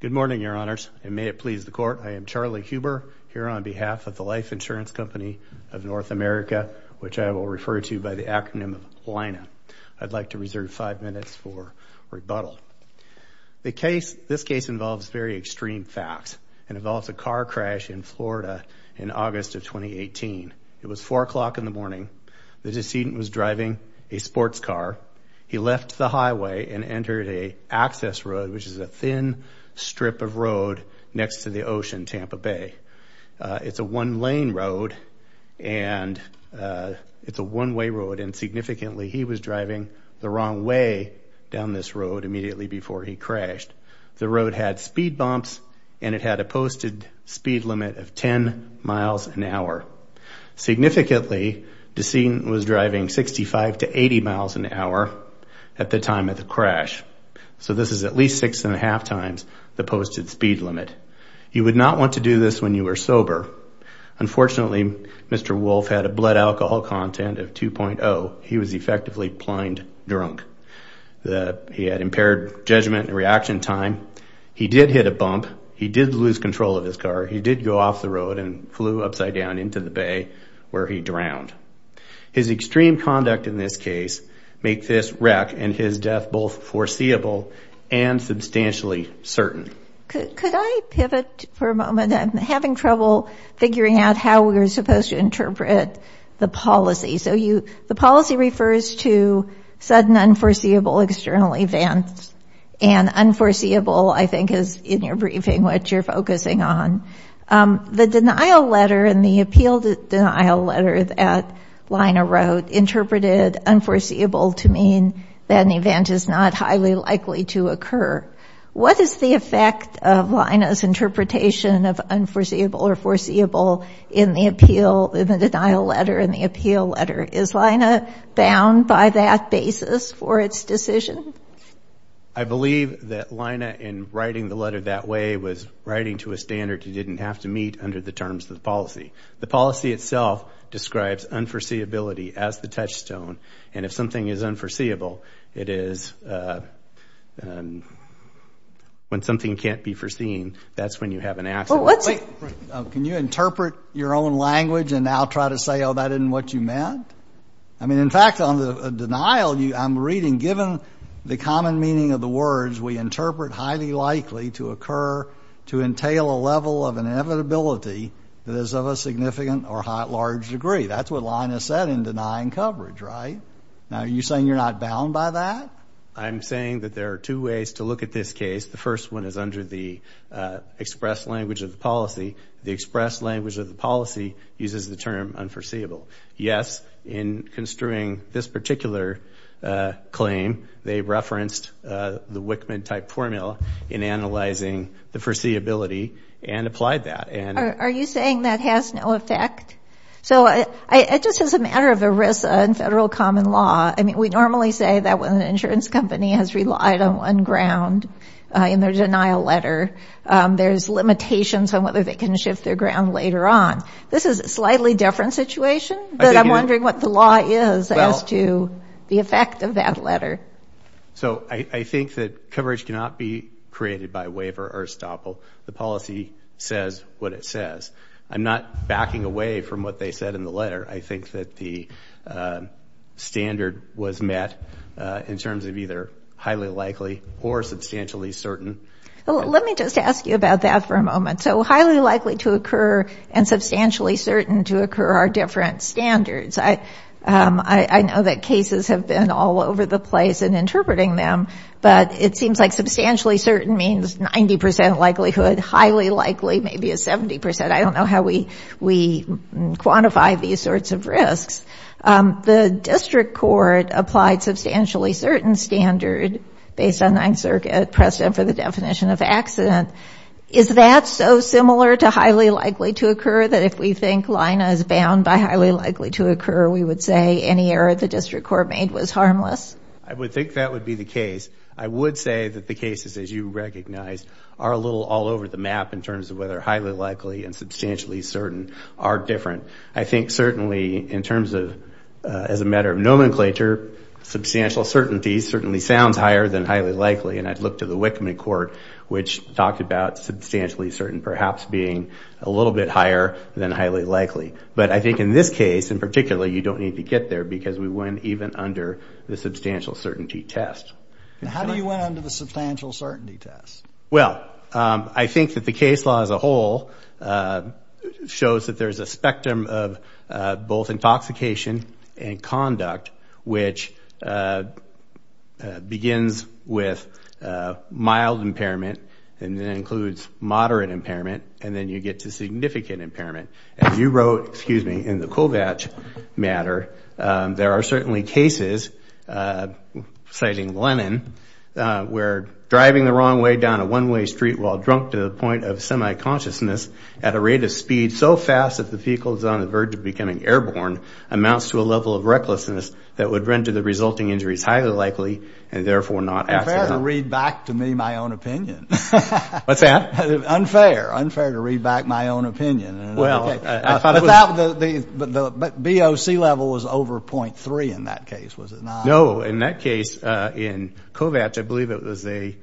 Good morning, Your Honors, and may it please the Court, I am Charlie Huber, here on behalf of the Life Insurance Company of North America, which I will refer to by the acronym of LINA. I'd like to reserve five minutes for rebuttal. This case involves very extreme facts. It involves a car crash in Florida in August of 2018. It was 4 o'clock in the morning. The decedent was driving a sports car. He left the highway and entered an access road, which is a thin strip of road next to the ocean, Tampa Bay. It's a one-lane road, and it's a one-way road. And significantly, he was driving the wrong way down this road immediately before he crashed. The road had speed bumps, and it had a posted speed limit of 10 miles an hour. Significantly, the decedent was driving 65 to 80 miles an hour at the time of the crash. So this is at least six and a half times the posted speed limit. You would not want to do this when you were sober. Unfortunately, Mr. Wolf had a blood alcohol content of 2.0. He was effectively blind drunk. He had impaired judgment and reaction time. He did hit a bump. He did lose control of his car. He did go off the road and flew upside down into the bay where he drowned. His extreme conduct in this case make this wreck and his death both foreseeable and substantially certain. Could I pivot for a moment? I'm having trouble figuring out how we're supposed to interpret the policy. So the policy refers to sudden unforeseeable external events. And unforeseeable, I think, is in your briefing what you're focusing on. The denial letter and the appeal denial letter that Lina wrote interpreted unforeseeable to mean that an event is not highly likely to occur. What is the effect of Lina's interpretation of unforeseeable or foreseeable in the appeal, in the denial letter and the appeal letter? Is Lina bound by that basis for its decision? I believe that Lina, in writing the letter that way, was writing to a standard you didn't have to meet under the terms of the policy. The policy itself describes unforeseeability as the touchstone. And if something is unforeseeable, it is when something can't be foreseen, that's when you have an accident. Wait. Can you interpret your own language and now try to say, oh, that isn't what you meant? I mean, in fact, on the denial, I'm reading, given the common meaning of the words, we interpret highly likely to occur to entail a level of inevitability that is of a significant or large degree. That's what Lina said in denying coverage, right? Now, are you saying you're not bound by that? I'm saying that there are two ways to look at this case. The first one is under the express language of the policy. The express language of the policy uses the term unforeseeable. Yes, in construing this particular claim, they referenced the Wickman-type formula in analyzing the foreseeability and applied that. Are you saying that has no effect? So it just is a matter of the risk in federal common law. I mean, we normally say that when an insurance company has relied on one ground in their denial letter, there's limitations on whether they can shift their ground later on. This is a slightly different situation, but I'm wondering what the law is as to the effect of that letter. So I think that coverage cannot be created by waiver or estoppel. The policy says what it says. I'm not backing away from what they said in the letter. I think that the standard was met in terms of either highly likely or substantially certain. Well, let me just ask you about that for a moment. So highly likely to occur and substantially certain to occur are different standards. I know that cases have been all over the place in interpreting them, but it seems like substantially certain means 90% likelihood, highly likely maybe a 70%. I don't know how we quantify these sorts of risks. The district court applied substantially certain standard based on 9th Circuit precedent for the definition of accident. Is that so similar to highly likely to occur that if we think Lina is bound by highly likely to occur, we would say any error the district court made was harmless? I would think that would be the case. I would say that the cases, as you recognize, are a little all over the map in terms of whether highly likely and substantially certain are different. I think certainly in terms of as a matter of nomenclature, substantial certainty certainly sounds higher than highly likely. And I'd look to the Wickman Court, which talked about substantially certain perhaps being a little bit higher than highly likely. But I think in this case in particular, you don't need to get there because we went even under the substantial certainty test. How do you went under the substantial certainty test? Well, I think that the case law as a whole shows that there's a spectrum of both intoxication and conduct, which begins with mild impairment, and then includes moderate impairment, and then you get to significant impairment. As you wrote, excuse me, in the Kovach matter, there are certainly cases, citing Lennon, where driving the wrong way down a one-way street while drunk to the point of semi-consciousness at a rate of speed so fast that the vehicle is on the verge of becoming airborne amounts to a level of recklessness that would render the resulting injuries highly likely and therefore not accidental. It's unfair to read back to me my own opinion. What's that? Unfair. Unfair to read back my own opinion. Well, I thought it was... But the BOC level was over .3 in that case, was it not? No. In that case, in Kovach, I believe it was a...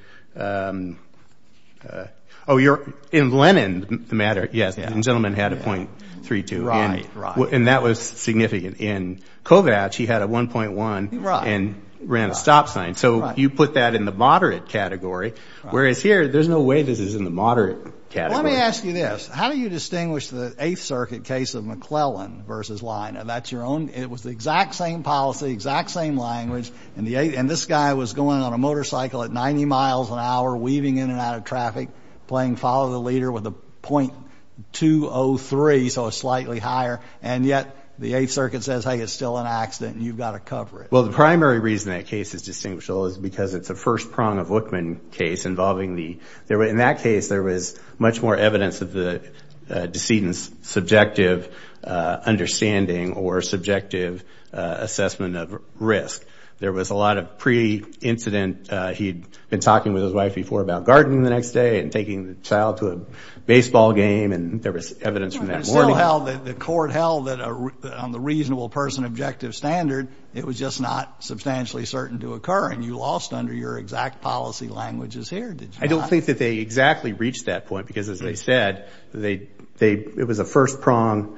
Oh, you're... In Lennon matter, yes, the gentleman had a .32. Right, right. And that was significant. In Kovach, he had a 1.1 and ran a stop sign. So you put that in the moderate category, whereas here, there's no way this is in the moderate category. Well, let me ask you this. How do you distinguish the Eighth Circuit case of McClellan versus Leina? That's your own... It was the exact same policy, exact same language, and this guy was going on a motorcycle at 90 miles an hour, weaving in and out of traffic, playing follow the leader with a .203, so slightly higher. And yet, the Eighth Circuit says, hey, it's still an accident and you've got to cover it. Well, the primary reason that case is distinguishable is because it's a first prong of Wichman case involving the... In that case, there was much more evidence of the decedent's subjective understanding or subjective assessment of risk. There was a lot of pre-incident... He'd been talking with his wife before about gardening the next day and taking the child to a baseball game, and there was evidence from that morning. But still, the court held that on the reasonable person objective standard, it was just not substantially certain to occur. And you lost under your exact policy languages here, did you not? I don't think that they exactly reached that point because, as they said, it was a first prong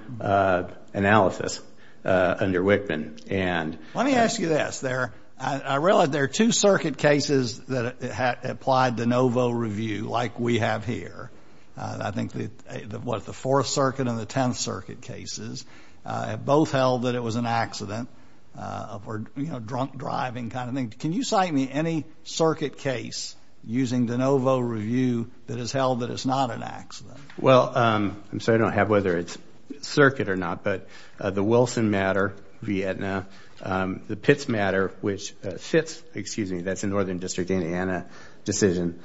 analysis under Wichman. Let me ask you this. I realize there are two circuit cases that applied de novo review like we have here. I think the Fourth Circuit and the Tenth Circuit cases both held that it was an accident or drunk driving kind of thing. Can you cite me any circuit case using de novo review that has held that it's not an accident? Well, I'm sorry I don't have whether it's circuit or not, but the Wilson matter, Vietna, the Pitts matter, which fits... Excuse me, that's a Northern District, Indiana decision.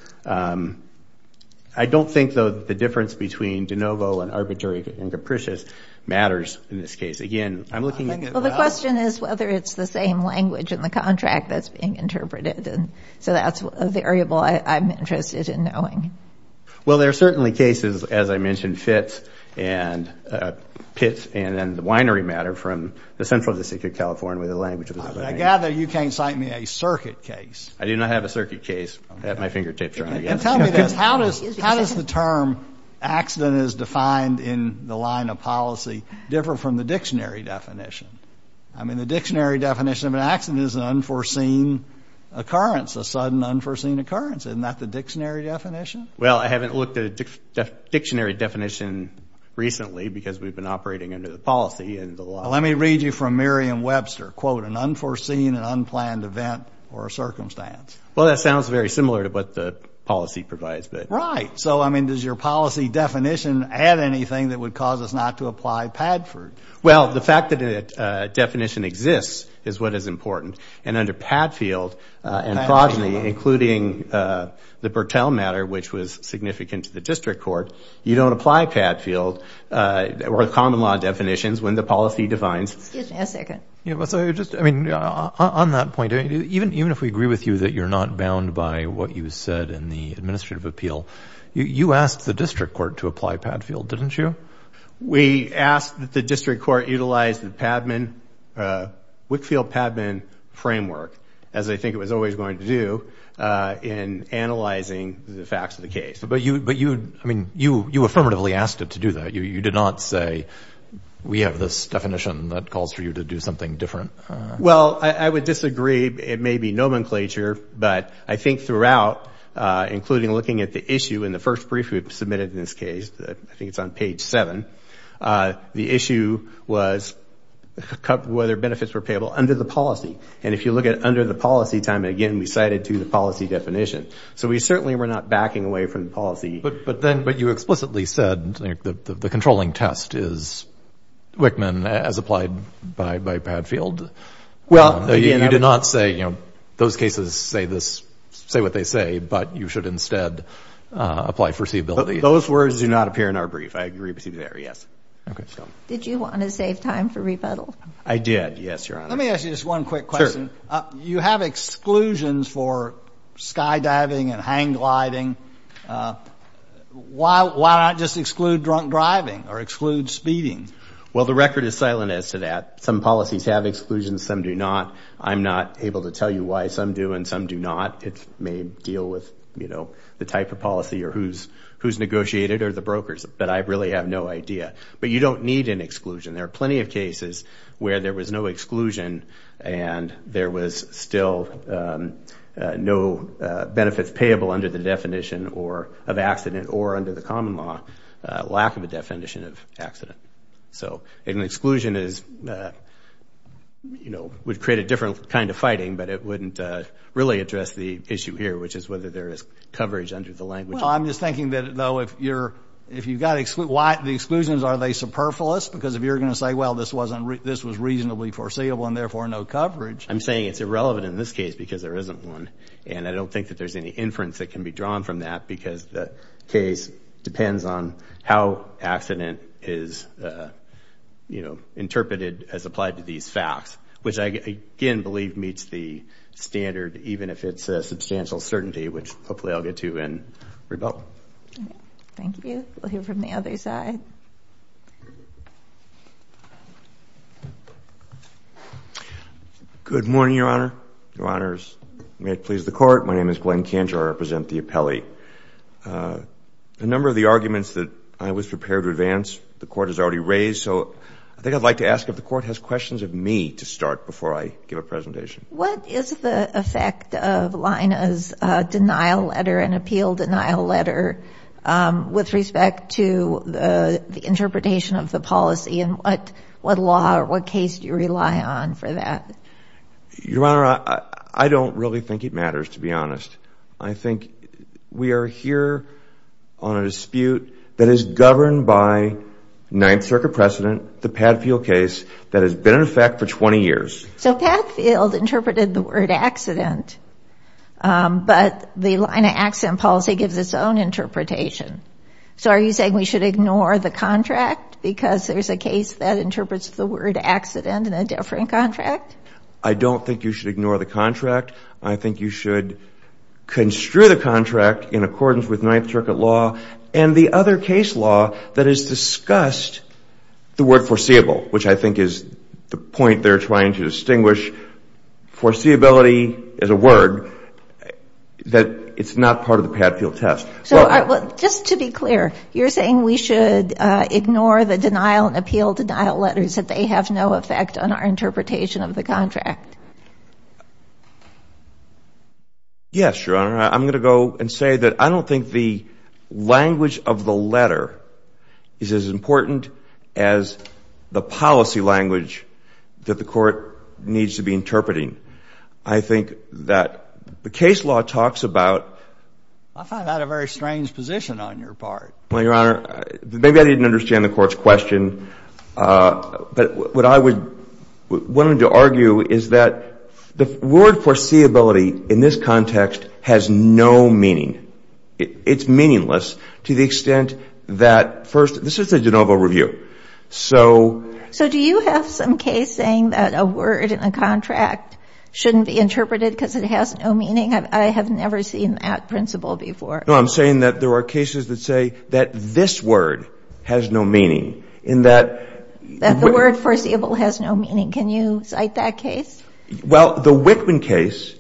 I don't think, though, that the difference between de novo and arbitrary and capricious matters in this case. Again, I'm looking at... Well, the question is whether it's the same language in the contract that's being interpreted. So that's a variable I'm interested in knowing. Well, there are certainly cases, as I mentioned, Fitz and Pitts, and then the winery matter from the Central District of California, where the language was... I gather you can't cite me a circuit case. I do not have a circuit case at my fingertips, Your Honor. Tell me this. How does the term accident as defined in the line of policy differ from the dictionary definition? I mean, the dictionary definition of an accident is an unforeseen occurrence, a sudden unforeseen occurrence. Isn't that the dictionary definition? Well, I haven't looked at a dictionary definition recently because we've been operating under the policy and the law. Well, let me read you from Merriam-Webster. Quote, an unforeseen and unplanned event or circumstance. Well, that sounds very similar to what the policy provides, but... Right. So, I mean, does your policy definition add anything that would cause us not to apply Padford? Well, the fact that the definition exists is what is important. And under Padfield and progeny, including the Bertell matter, which was significant to the district court, you don't apply Padfield or the common law definitions when the policy defines... Excuse me a second. So, just, I mean, on that point, even if we agree with you that you're not bound by what you said in the administrative appeal, you asked the district court to apply Padfield, didn't you? We asked that the district court utilize the Wickfield-Padman framework, as I think it was always going to do, in analyzing the facts of the case. But you, I mean, you affirmatively asked it to do that. You did not say, we have this definition that calls for you to do something different. Well, I would disagree. It may be nomenclature, but I think throughout, including looking at the issue in the first brief we submitted in this case, I think it's on page seven, the issue was whether benefits were payable under the policy. And if you look at under the policy time, again, we cited to the policy definition. So we certainly were not backing away from the policy. But then, but you explicitly said the controlling test is Wickman as applied by Padfield. Well... You did not say, you know, those cases say this, say what they say, but you should instead apply foreseeability. Those words do not appear in our brief. I agree with you there, yes. Did you want to save time for rebuttal? I did, yes, Your Honor. Let me ask you just one quick question. You have exclusions for skydiving and hang gliding. Why not just exclude drunk driving or exclude speeding? Well, the record is silent as to that. Some policies have exclusions, some do not. I'm not able to tell you why some do and some do not. It may deal with, you know, the type of policy or who's negotiated or the brokers, but I really have no idea. But you don't need an exclusion. There are plenty of cases where there was no exclusion and there was still no benefits payable under the definition of accident or under the common law, lack of a definition of accident. So an exclusion is, you know, would create a different kind of fighting, but it wouldn't really address the issue here, which is whether there is coverage under the language. Well, I'm just thinking that, though, if you're, if you've got to exclude, the exclusions, are they superfluous? Because if you're going to say, well, this was reasonably foreseeable and therefore no coverage. I'm saying it's irrelevant in this case because there isn't one. And I don't think that there's any inference that can be drawn from that because the case depends on how accident is, you know, interpreted as applied to these facts, which I, again, believe meets the standard, even if it's a substantial certainty, which hopefully I'll get to in rebuttal. Thank you. We'll hear from the other side. Good morning, Your Honor, Your Honors. May it please the Court. My name is Glenn Kanjar. I represent the appellee. A number of the arguments that I was prepared to advance, the Court has already raised. So I think I'd like to ask if the Court has questions of me to start before I give a presentation. What is the effect of Lina's denial letter, an appeal denial letter, with respect to the interpretation of the policy? And what law or what case do you rely on for that? Your Honor, I don't really think it matters, to be honest. I think we are here on a dispute that is governed by Ninth Circuit precedent, the Padfield case, that has been in effect for 20 years. So Padfield interpreted the word accident, but the Lina accident policy gives its own interpretation. So are you saying we should ignore the contract because there's a case that interprets the word accident in a different contract? I don't think you should ignore the contract. I think you should construe the contract in accordance with Ninth Circuit law and the other case law that has discussed the word foreseeable, which I think is the point they're trying to distinguish. Foreseeability is a word that is not part of the Padfield test. So just to be clear, you're saying we should ignore the denial and appeal denial letters that they have no effect on our interpretation of the contract? Yes, Your Honor. I'm going to go and say that I don't think the language of the letter is as important as the policy language that the Court needs to be interpreting. I think that the case law talks about... I find that a very strange position on your part. Well, Your Honor, maybe I didn't understand the Court's question, but what I wanted to argue is that the word foreseeability in this context has no meaning. It's meaningless to the extent that... First, this is a de novo review, so... So do you have some case saying that a word in a contract shouldn't be interpreted because it has no meaning? I have never seen that principle before. No, I'm saying that there are cases that say that this word has no meaning, in that... That the word foreseeable has no meaning. Can you cite that case? Well, the Whitman case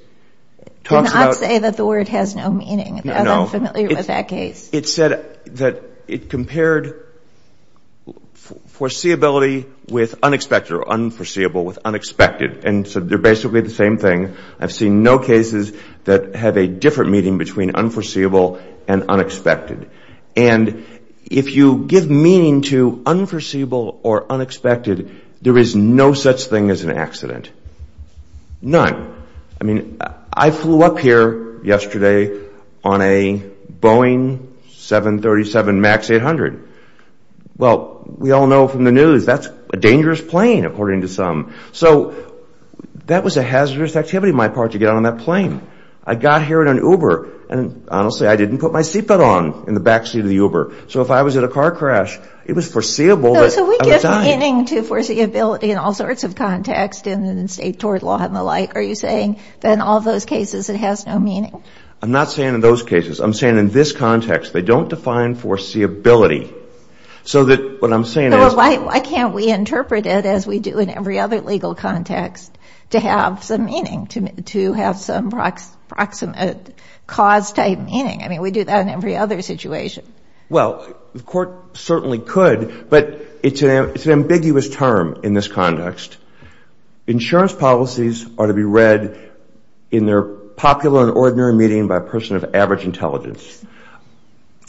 talks about... Do not say that the word has no meaning. I'm unfamiliar with that case. It said that it compared foreseeability with unexpected or unforeseeable with unexpected. And so they're basically the same thing. I've seen no cases that have a different meaning between unforeseeable and unexpected. And if you give meaning to unforeseeable or unexpected, there is no such thing as an accident. None. I mean, I flew up here yesterday on a Boeing 737 MAX 800. Well, we all know from the news that's a dangerous plane, according to some. So that was a hazardous activity on my part to get on that plane. I got here in an Uber, and honestly, I didn't put my seatbelt on in the backseat of the Uber. So if I was in a car crash, it was foreseeable... So we give meaning to foreseeability in all sorts of contexts, in state tort law and the like, are you saying that in all those cases it has no meaning? I'm not saying in those cases. I'm saying in this context. They don't define foreseeability. So that what I'm saying is... Why can't we interpret it as we do in every other legal context to have some meaning, to have some proximate cause-type meaning? I mean, we do that in every other situation. Well, the court certainly could, but it's an ambiguous term in this context. Insurance policies are to be read in their popular and ordinary meaning by a person of average intelligence.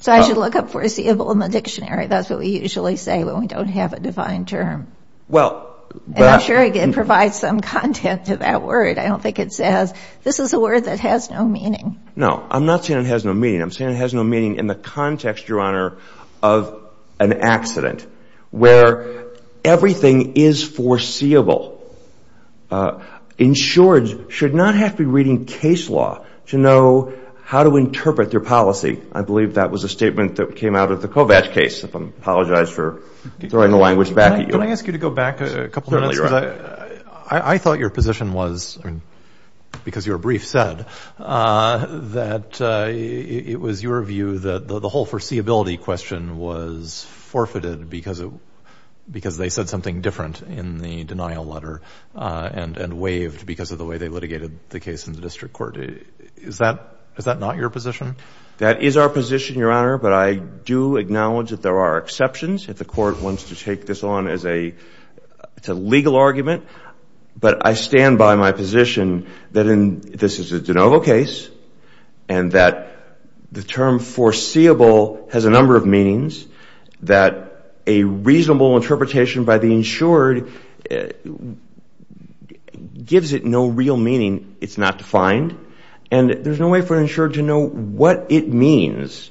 So I should look up foreseeable in the dictionary. That's what we usually say when we don't have a defined term. And I'm sure it provides some content to that word. I don't think it says, this is a word that has no meaning. No, I'm not saying it has no meaning. I'm saying it has no meaning in the context, Your Honor, of an accident where everything is foreseeable. Insurance should not have to be reading case law to know how to interpret their policy. I believe that was a statement that came out of the Kovacs case. I apologize for throwing the language back at you. Can I ask you to go back a couple minutes? I thought your position was, because your brief said, that it was your view that the whole foreseeability question was forfeited because they said something different in the denial letter and waived because of the way they litigated the case in the district court. Is that not your position? That is our position, Your Honor, but I do acknowledge that there are exceptions if the court wants to take this on as a legal argument. But I stand by my position that this is a de novo case and that the term foreseeable has a number of meanings, that a reasonable interpretation by the insured gives it no real meaning, it's not defined, and there's no way for an insured to know what it means.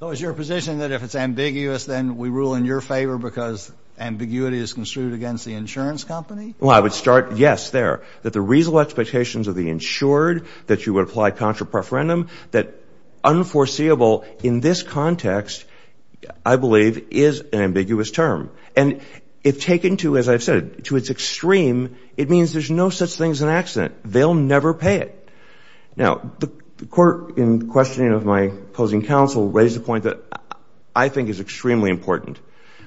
So is your position that if it's ambiguous, then we rule in your favor because ambiguity is construed against the insurance company? Well, I would start, yes, there, that the reasonable expectations of the insured that you would apply contra preferendum, that unforeseeable in this context, I believe, is an ambiguous term. And if taken to, as I've said, to its extreme, it means there's no such thing as an accident. They'll never pay it. Now, the court, in questioning of my opposing counsel, raised a point that I think is extremely important,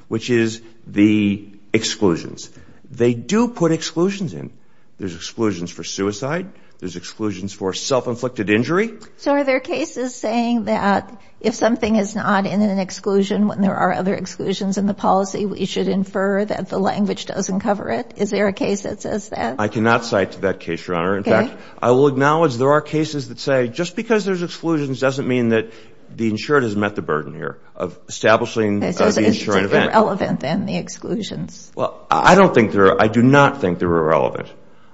which is the exclusions. They do put exclusions in. There's exclusions for suicide, there's exclusions for self-inflicted injury. So are there cases saying that, if something is not in an exclusion, when there are other exclusions in the policy, we should infer that the language doesn't cover it? Is there a case that says that? I cannot cite that case, Your Honor. In fact, I will acknowledge there are cases that say, just because there's exclusions doesn't mean that the insured has met the burden here of establishing the insuring event. It's irrelevant, then, the exclusions. Well, I don't think they're, I do not think they're irrelevant.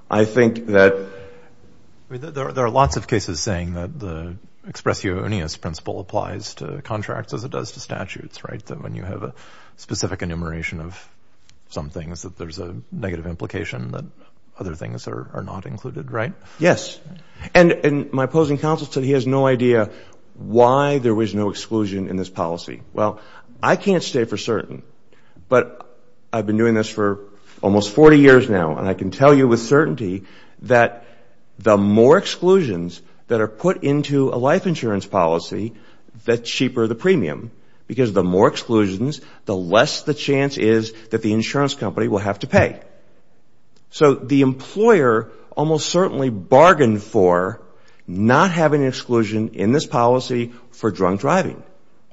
I think that... There are lots of cases saying that the expressionis principle applies to contracts as it does to statutes, right? That when you have a specific enumeration of some things, that there's a negative implication that other things are not included, right? Yes. And my opposing counsel said he has no idea why there was no exclusion in this policy. Well, I can't say for certain, but I've been doing this for almost 40 years now, and I can tell you with certainty that the more exclusions that are put into a life insurance policy, the cheaper the premium. Because the more exclusions, the less the chance is that the insurance company will have to pay. So the employer almost certainly bargained for not having an exclusion in this policy for drunk driving.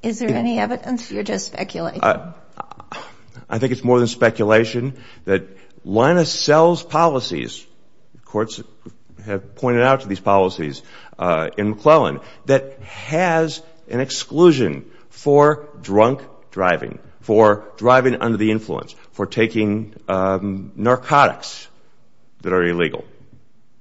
Is there any evidence? You're just speculating. I think it's more than speculation that Linus sells policies, courts have pointed out to these policies in McClellan, that has an exclusion for drunk driving, for driving under the influence, for taking narcotics that are illegal.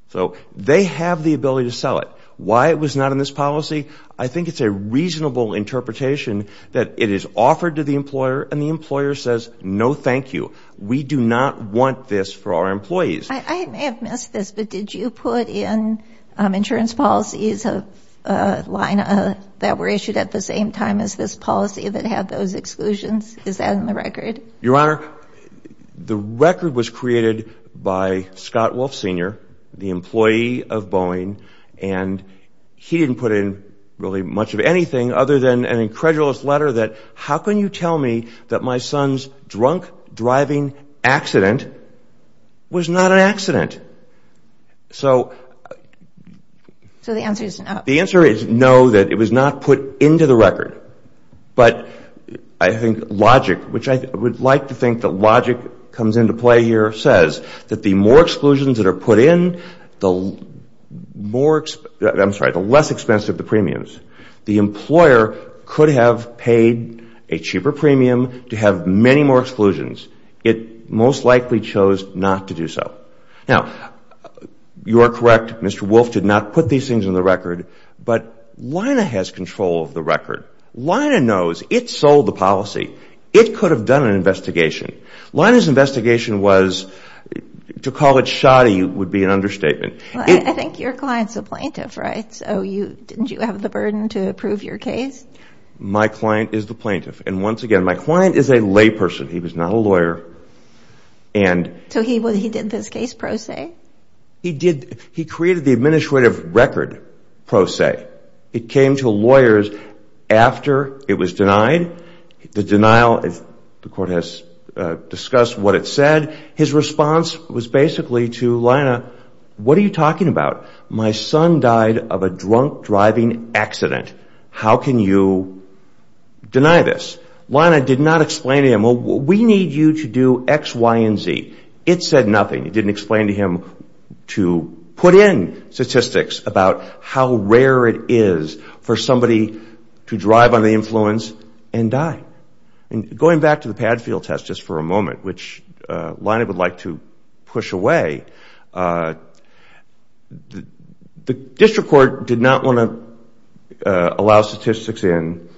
So they have the ability to sell it. Why it was not in this policy, I think it's a reasonable interpretation that it is offered to the employer and the employer says, no, thank you. We do not want this for our employees. I may have missed this, but did you put in insurance policies that were issued at the same time as this policy that had those exclusions? Is that in the record? Your Honor, the record was created by Scott Wolf Sr., the employee of Boeing, and he didn't put in really much of anything other than an incredulous letter that how can you tell me that my son's drunk driving accident was not an accident? So the answer is no. The answer is no, that it was not put into the record. But I think logic, which I would like to think that logic comes into play here, says that the more exclusions that are put in, the less expensive the premiums. The employer could have paid a cheaper premium to have many more exclusions. It most likely chose not to do so. Now, you're correct, Mr. Wolf did not put these things in the record, but Lina has control of the record. Lina knows it sold the policy. It could have done an investigation. Lina's investigation was, to call it shoddy would be an understatement. I think your client's a plaintiff, right? So didn't you have the burden to prove your case? My client is the plaintiff. And once again, my client is a layperson. He was not a lawyer. So he did this case pro se? He created the administrative record pro se. It came to lawyers after it was denied. The court has discussed what it said. His response was basically to Lina, what are you talking about? My son died of a drunk driving accident. How can you deny this? Lina did not explain to him, we need you to do X, Y, and Z. It said nothing. It didn't explain to him to put in statistics about how rare it is for somebody to drive under the influence and die. Going back to the pad field test just for a moment, which Lina would like to push away, the district court did not want to allow statistics in.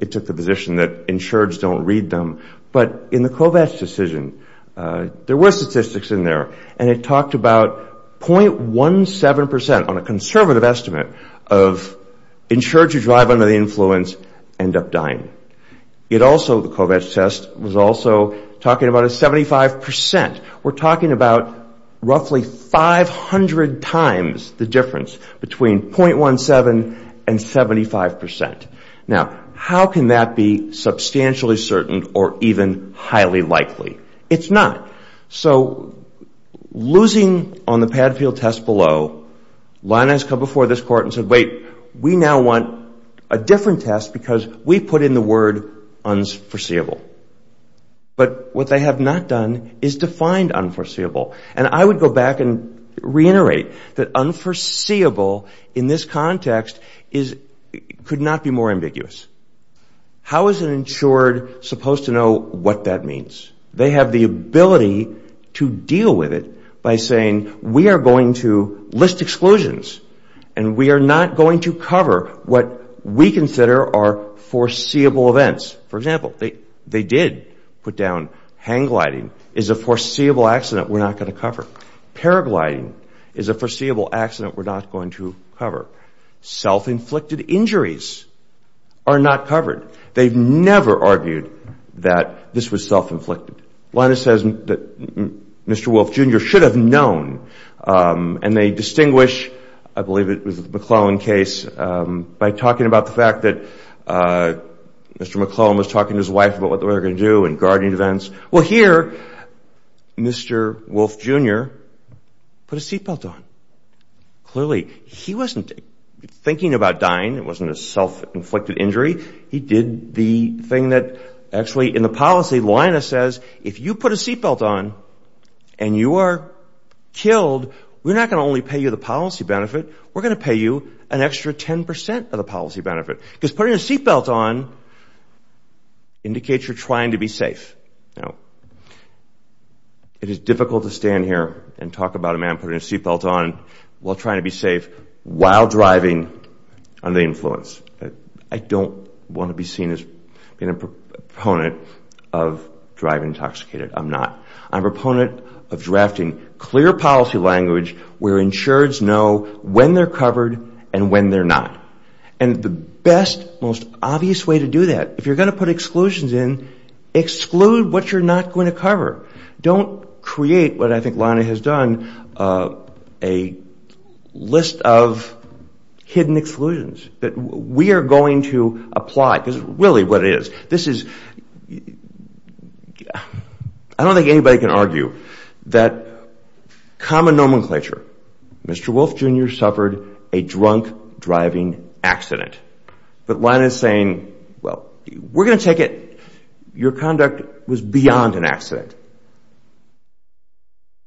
It took the position that insureds don't read them. But in the Kovacs decision, there were statistics in there. And it talked about .17%, on a conservative estimate, of insureds who drive under the influence end up dying. It also, the Kovacs test, was also talking about a 75%. We're talking about roughly 500 times the difference between .17% and 75%. Now, how can that be substantially certain or even highly likely? It's not. So, losing on the pad field test below, Lina has come before this court and said, wait, we now want a different test because we put in the word unforeseeable. But what they have not done is define unforeseeable. And I would go back and reiterate that unforeseeable in this context could not be more ambiguous. How is an insured supposed to know what that means? They have the ability to deal with it by saying, we are going to list exclusions and we are not going to cover what we consider are foreseeable events. For example, they did put down hang gliding is a foreseeable accident we're not going to cover. Paragliding is a foreseeable accident we're not going to cover. Self-inflicted injuries are not covered. They've never argued that this was self-inflicted. Lina says that Mr. Wolf, Jr. should have known and they distinguish, I believe it was the McClellan case, by talking about the fact that Mr. McClellan was talking to his wife about what they were going to do and guarding events. Well here, Mr. Wolf, Jr. put a seatbelt on. Clearly, he wasn't thinking about dying it wasn't a self-inflicted injury he did the thing that actually in the policy Lina says, if you put a seatbelt on and you are killed we're not going to only pay you the policy benefit we're going to pay you an extra 10% of the policy benefit because putting a seatbelt on indicates you're trying to be safe. It is difficult to stand here and talk about a man putting a seatbelt on while trying to be safe while driving under the influence. I don't want to be seen as being a proponent of driving intoxicated. I'm not. I'm a proponent of drafting clear policy language where insureds know when they're covered and when they're not. And the best, most obvious way to do that if you're going to put exclusions in exclude what you're not going to cover don't create what I think Lina has done a list of hidden exclusions that we are going to apply This is really what it is. I don't think anybody can argue that common nomenclature Mr. Wolf Jr. suffered a drunk driving accident but Lina is saying we're going to take it your conduct was beyond an accident.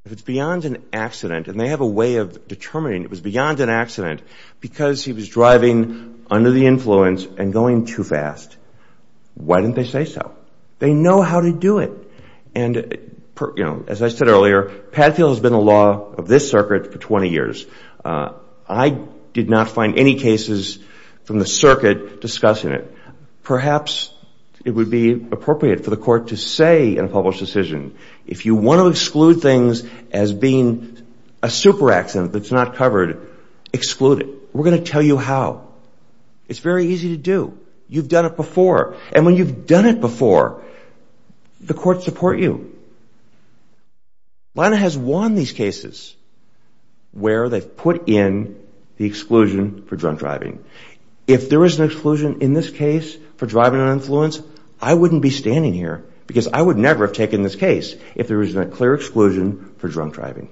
If it's beyond an accident and they have a way of determining it was beyond an accident because he was driving under the influence and going too fast why didn't they say so? They know how to do it. Padfield has been a law of this circuit for 20 years I did not find any cases from the circuit discussing it. Perhaps it would be appropriate for the court to say in a published decision if you want to exclude things as being a super accident that's not covered exclude it. We're going to tell you how. It's very easy to do. You've done it before. And when you've done it before the court supports you. Lina has won these cases where they've put in the exclusion for drunk driving If there is an exclusion in this case I wouldn't be standing here because I would never have taken this case if there was a clear exclusion for drunk driving.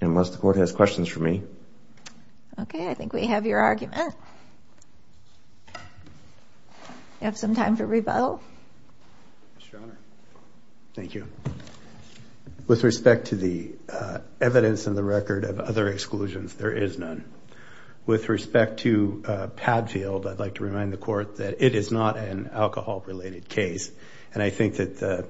Unless the court has questions for me. I think we have your argument. Do you have some time for rebuttal? Thank you. With respect to the evidence and the record of other exclusions, there is none. With respect to Padfield I'd like to remind the court that it is not an alcohol related case. And I think that the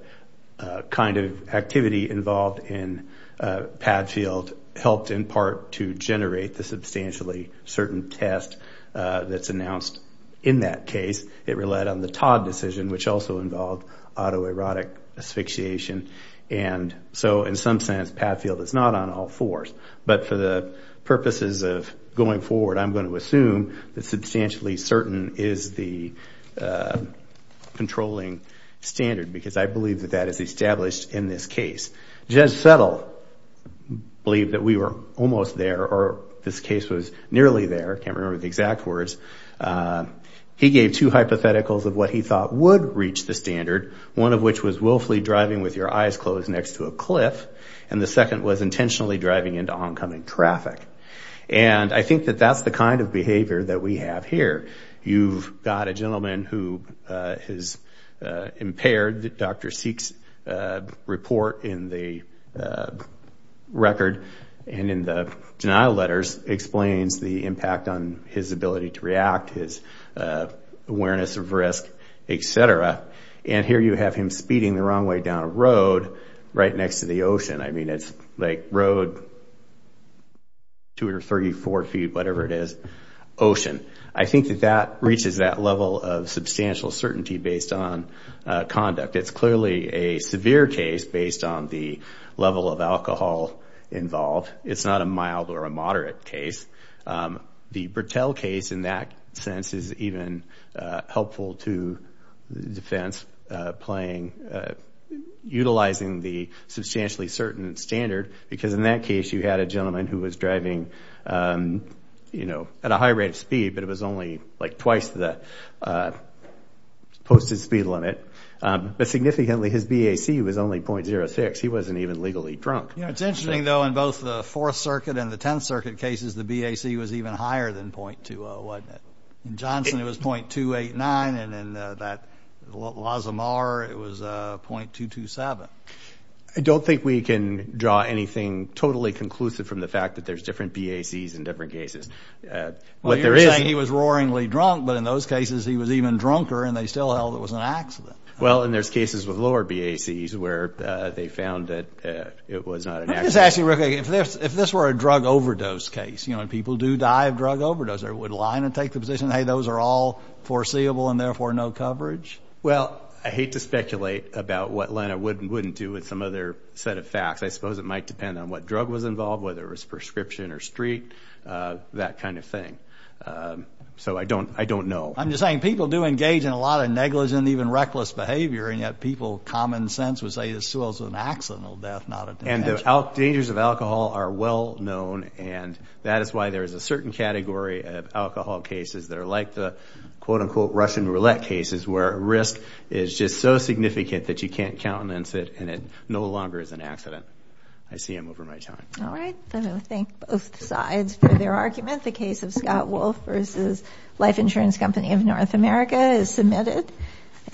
kind of activity involved in Padfield helped in part to generate the substantially certain test that's announced in that case. It relied on the Todd decision which also involved autoerotic asphyxiation and so in some sense Padfield is not on all fours. But for the purposes of going forward I'm going to assume that substantially certain is the controlling standard because I believe that is established in this case. Judge Settle believed that we were almost there or this case was nearly there I can't remember the exact words He gave two hypotheticals of what he thought would reach the standard One of which was willfully driving with your eyes closed next to a cliff and the second was intentionally driving into oncoming traffic. And I think that that's the kind of behavior that we have here. You've got a gentleman who is impaired. Dr. Seek's report in the record and in the denial letters explains the impact on his ability to react his awareness of risk, etc. And here you have him speeding the wrong way down a road right next to the ocean. I mean it's like road 234 feet whatever it is, ocean. I think that that reaches that level of substantial certainty based on conduct. It's clearly a severe case based on the level of alcohol involved It's not a mild or a moderate case The Bertell case in that sense is helpful to defense utilizing the substantially certain standard because in that case you had a gentleman who was driving at a high rate of speed but it was only twice the posted speed limit but significantly his BAC was only .06 he wasn't even legally drunk. It's interesting though in both the 4th circuit and the 10th circuit cases the BAC was even .20, wasn't it? In Johnson it was .289 and in Lazzamar it was .227. I don't think we can draw anything totally conclusive from the fact that there's different BACs in different cases. You're saying he was roaringly drunk but in those cases he was even drunker and they still held it was an accident. Well and there's cases with lower BACs where they found that it was not an accident. If this were a drug overdose case and people do die of drug overdose, would Lina take the position that those are all foreseeable and therefore no coverage? Well, I hate to speculate about what Lina would and wouldn't do with some other set of facts. I suppose it might depend on what drug was involved, whether it was prescription or street that kind of thing. So I don't know. I'm just saying people do engage in a lot of negligent and even reckless behavior and yet people common sense would say this was an accidental death. And the dangers of alcohol are well known and that is why there is a certain category of alcohol cases that are like the quote unquote Russian roulette cases where risk is just so significant that you can't countenance it and it no longer is an accident. I see I'm over my time. Thank both sides for their argument. The case of Scott Wolf versus Life Insurance Company of North America is submitted.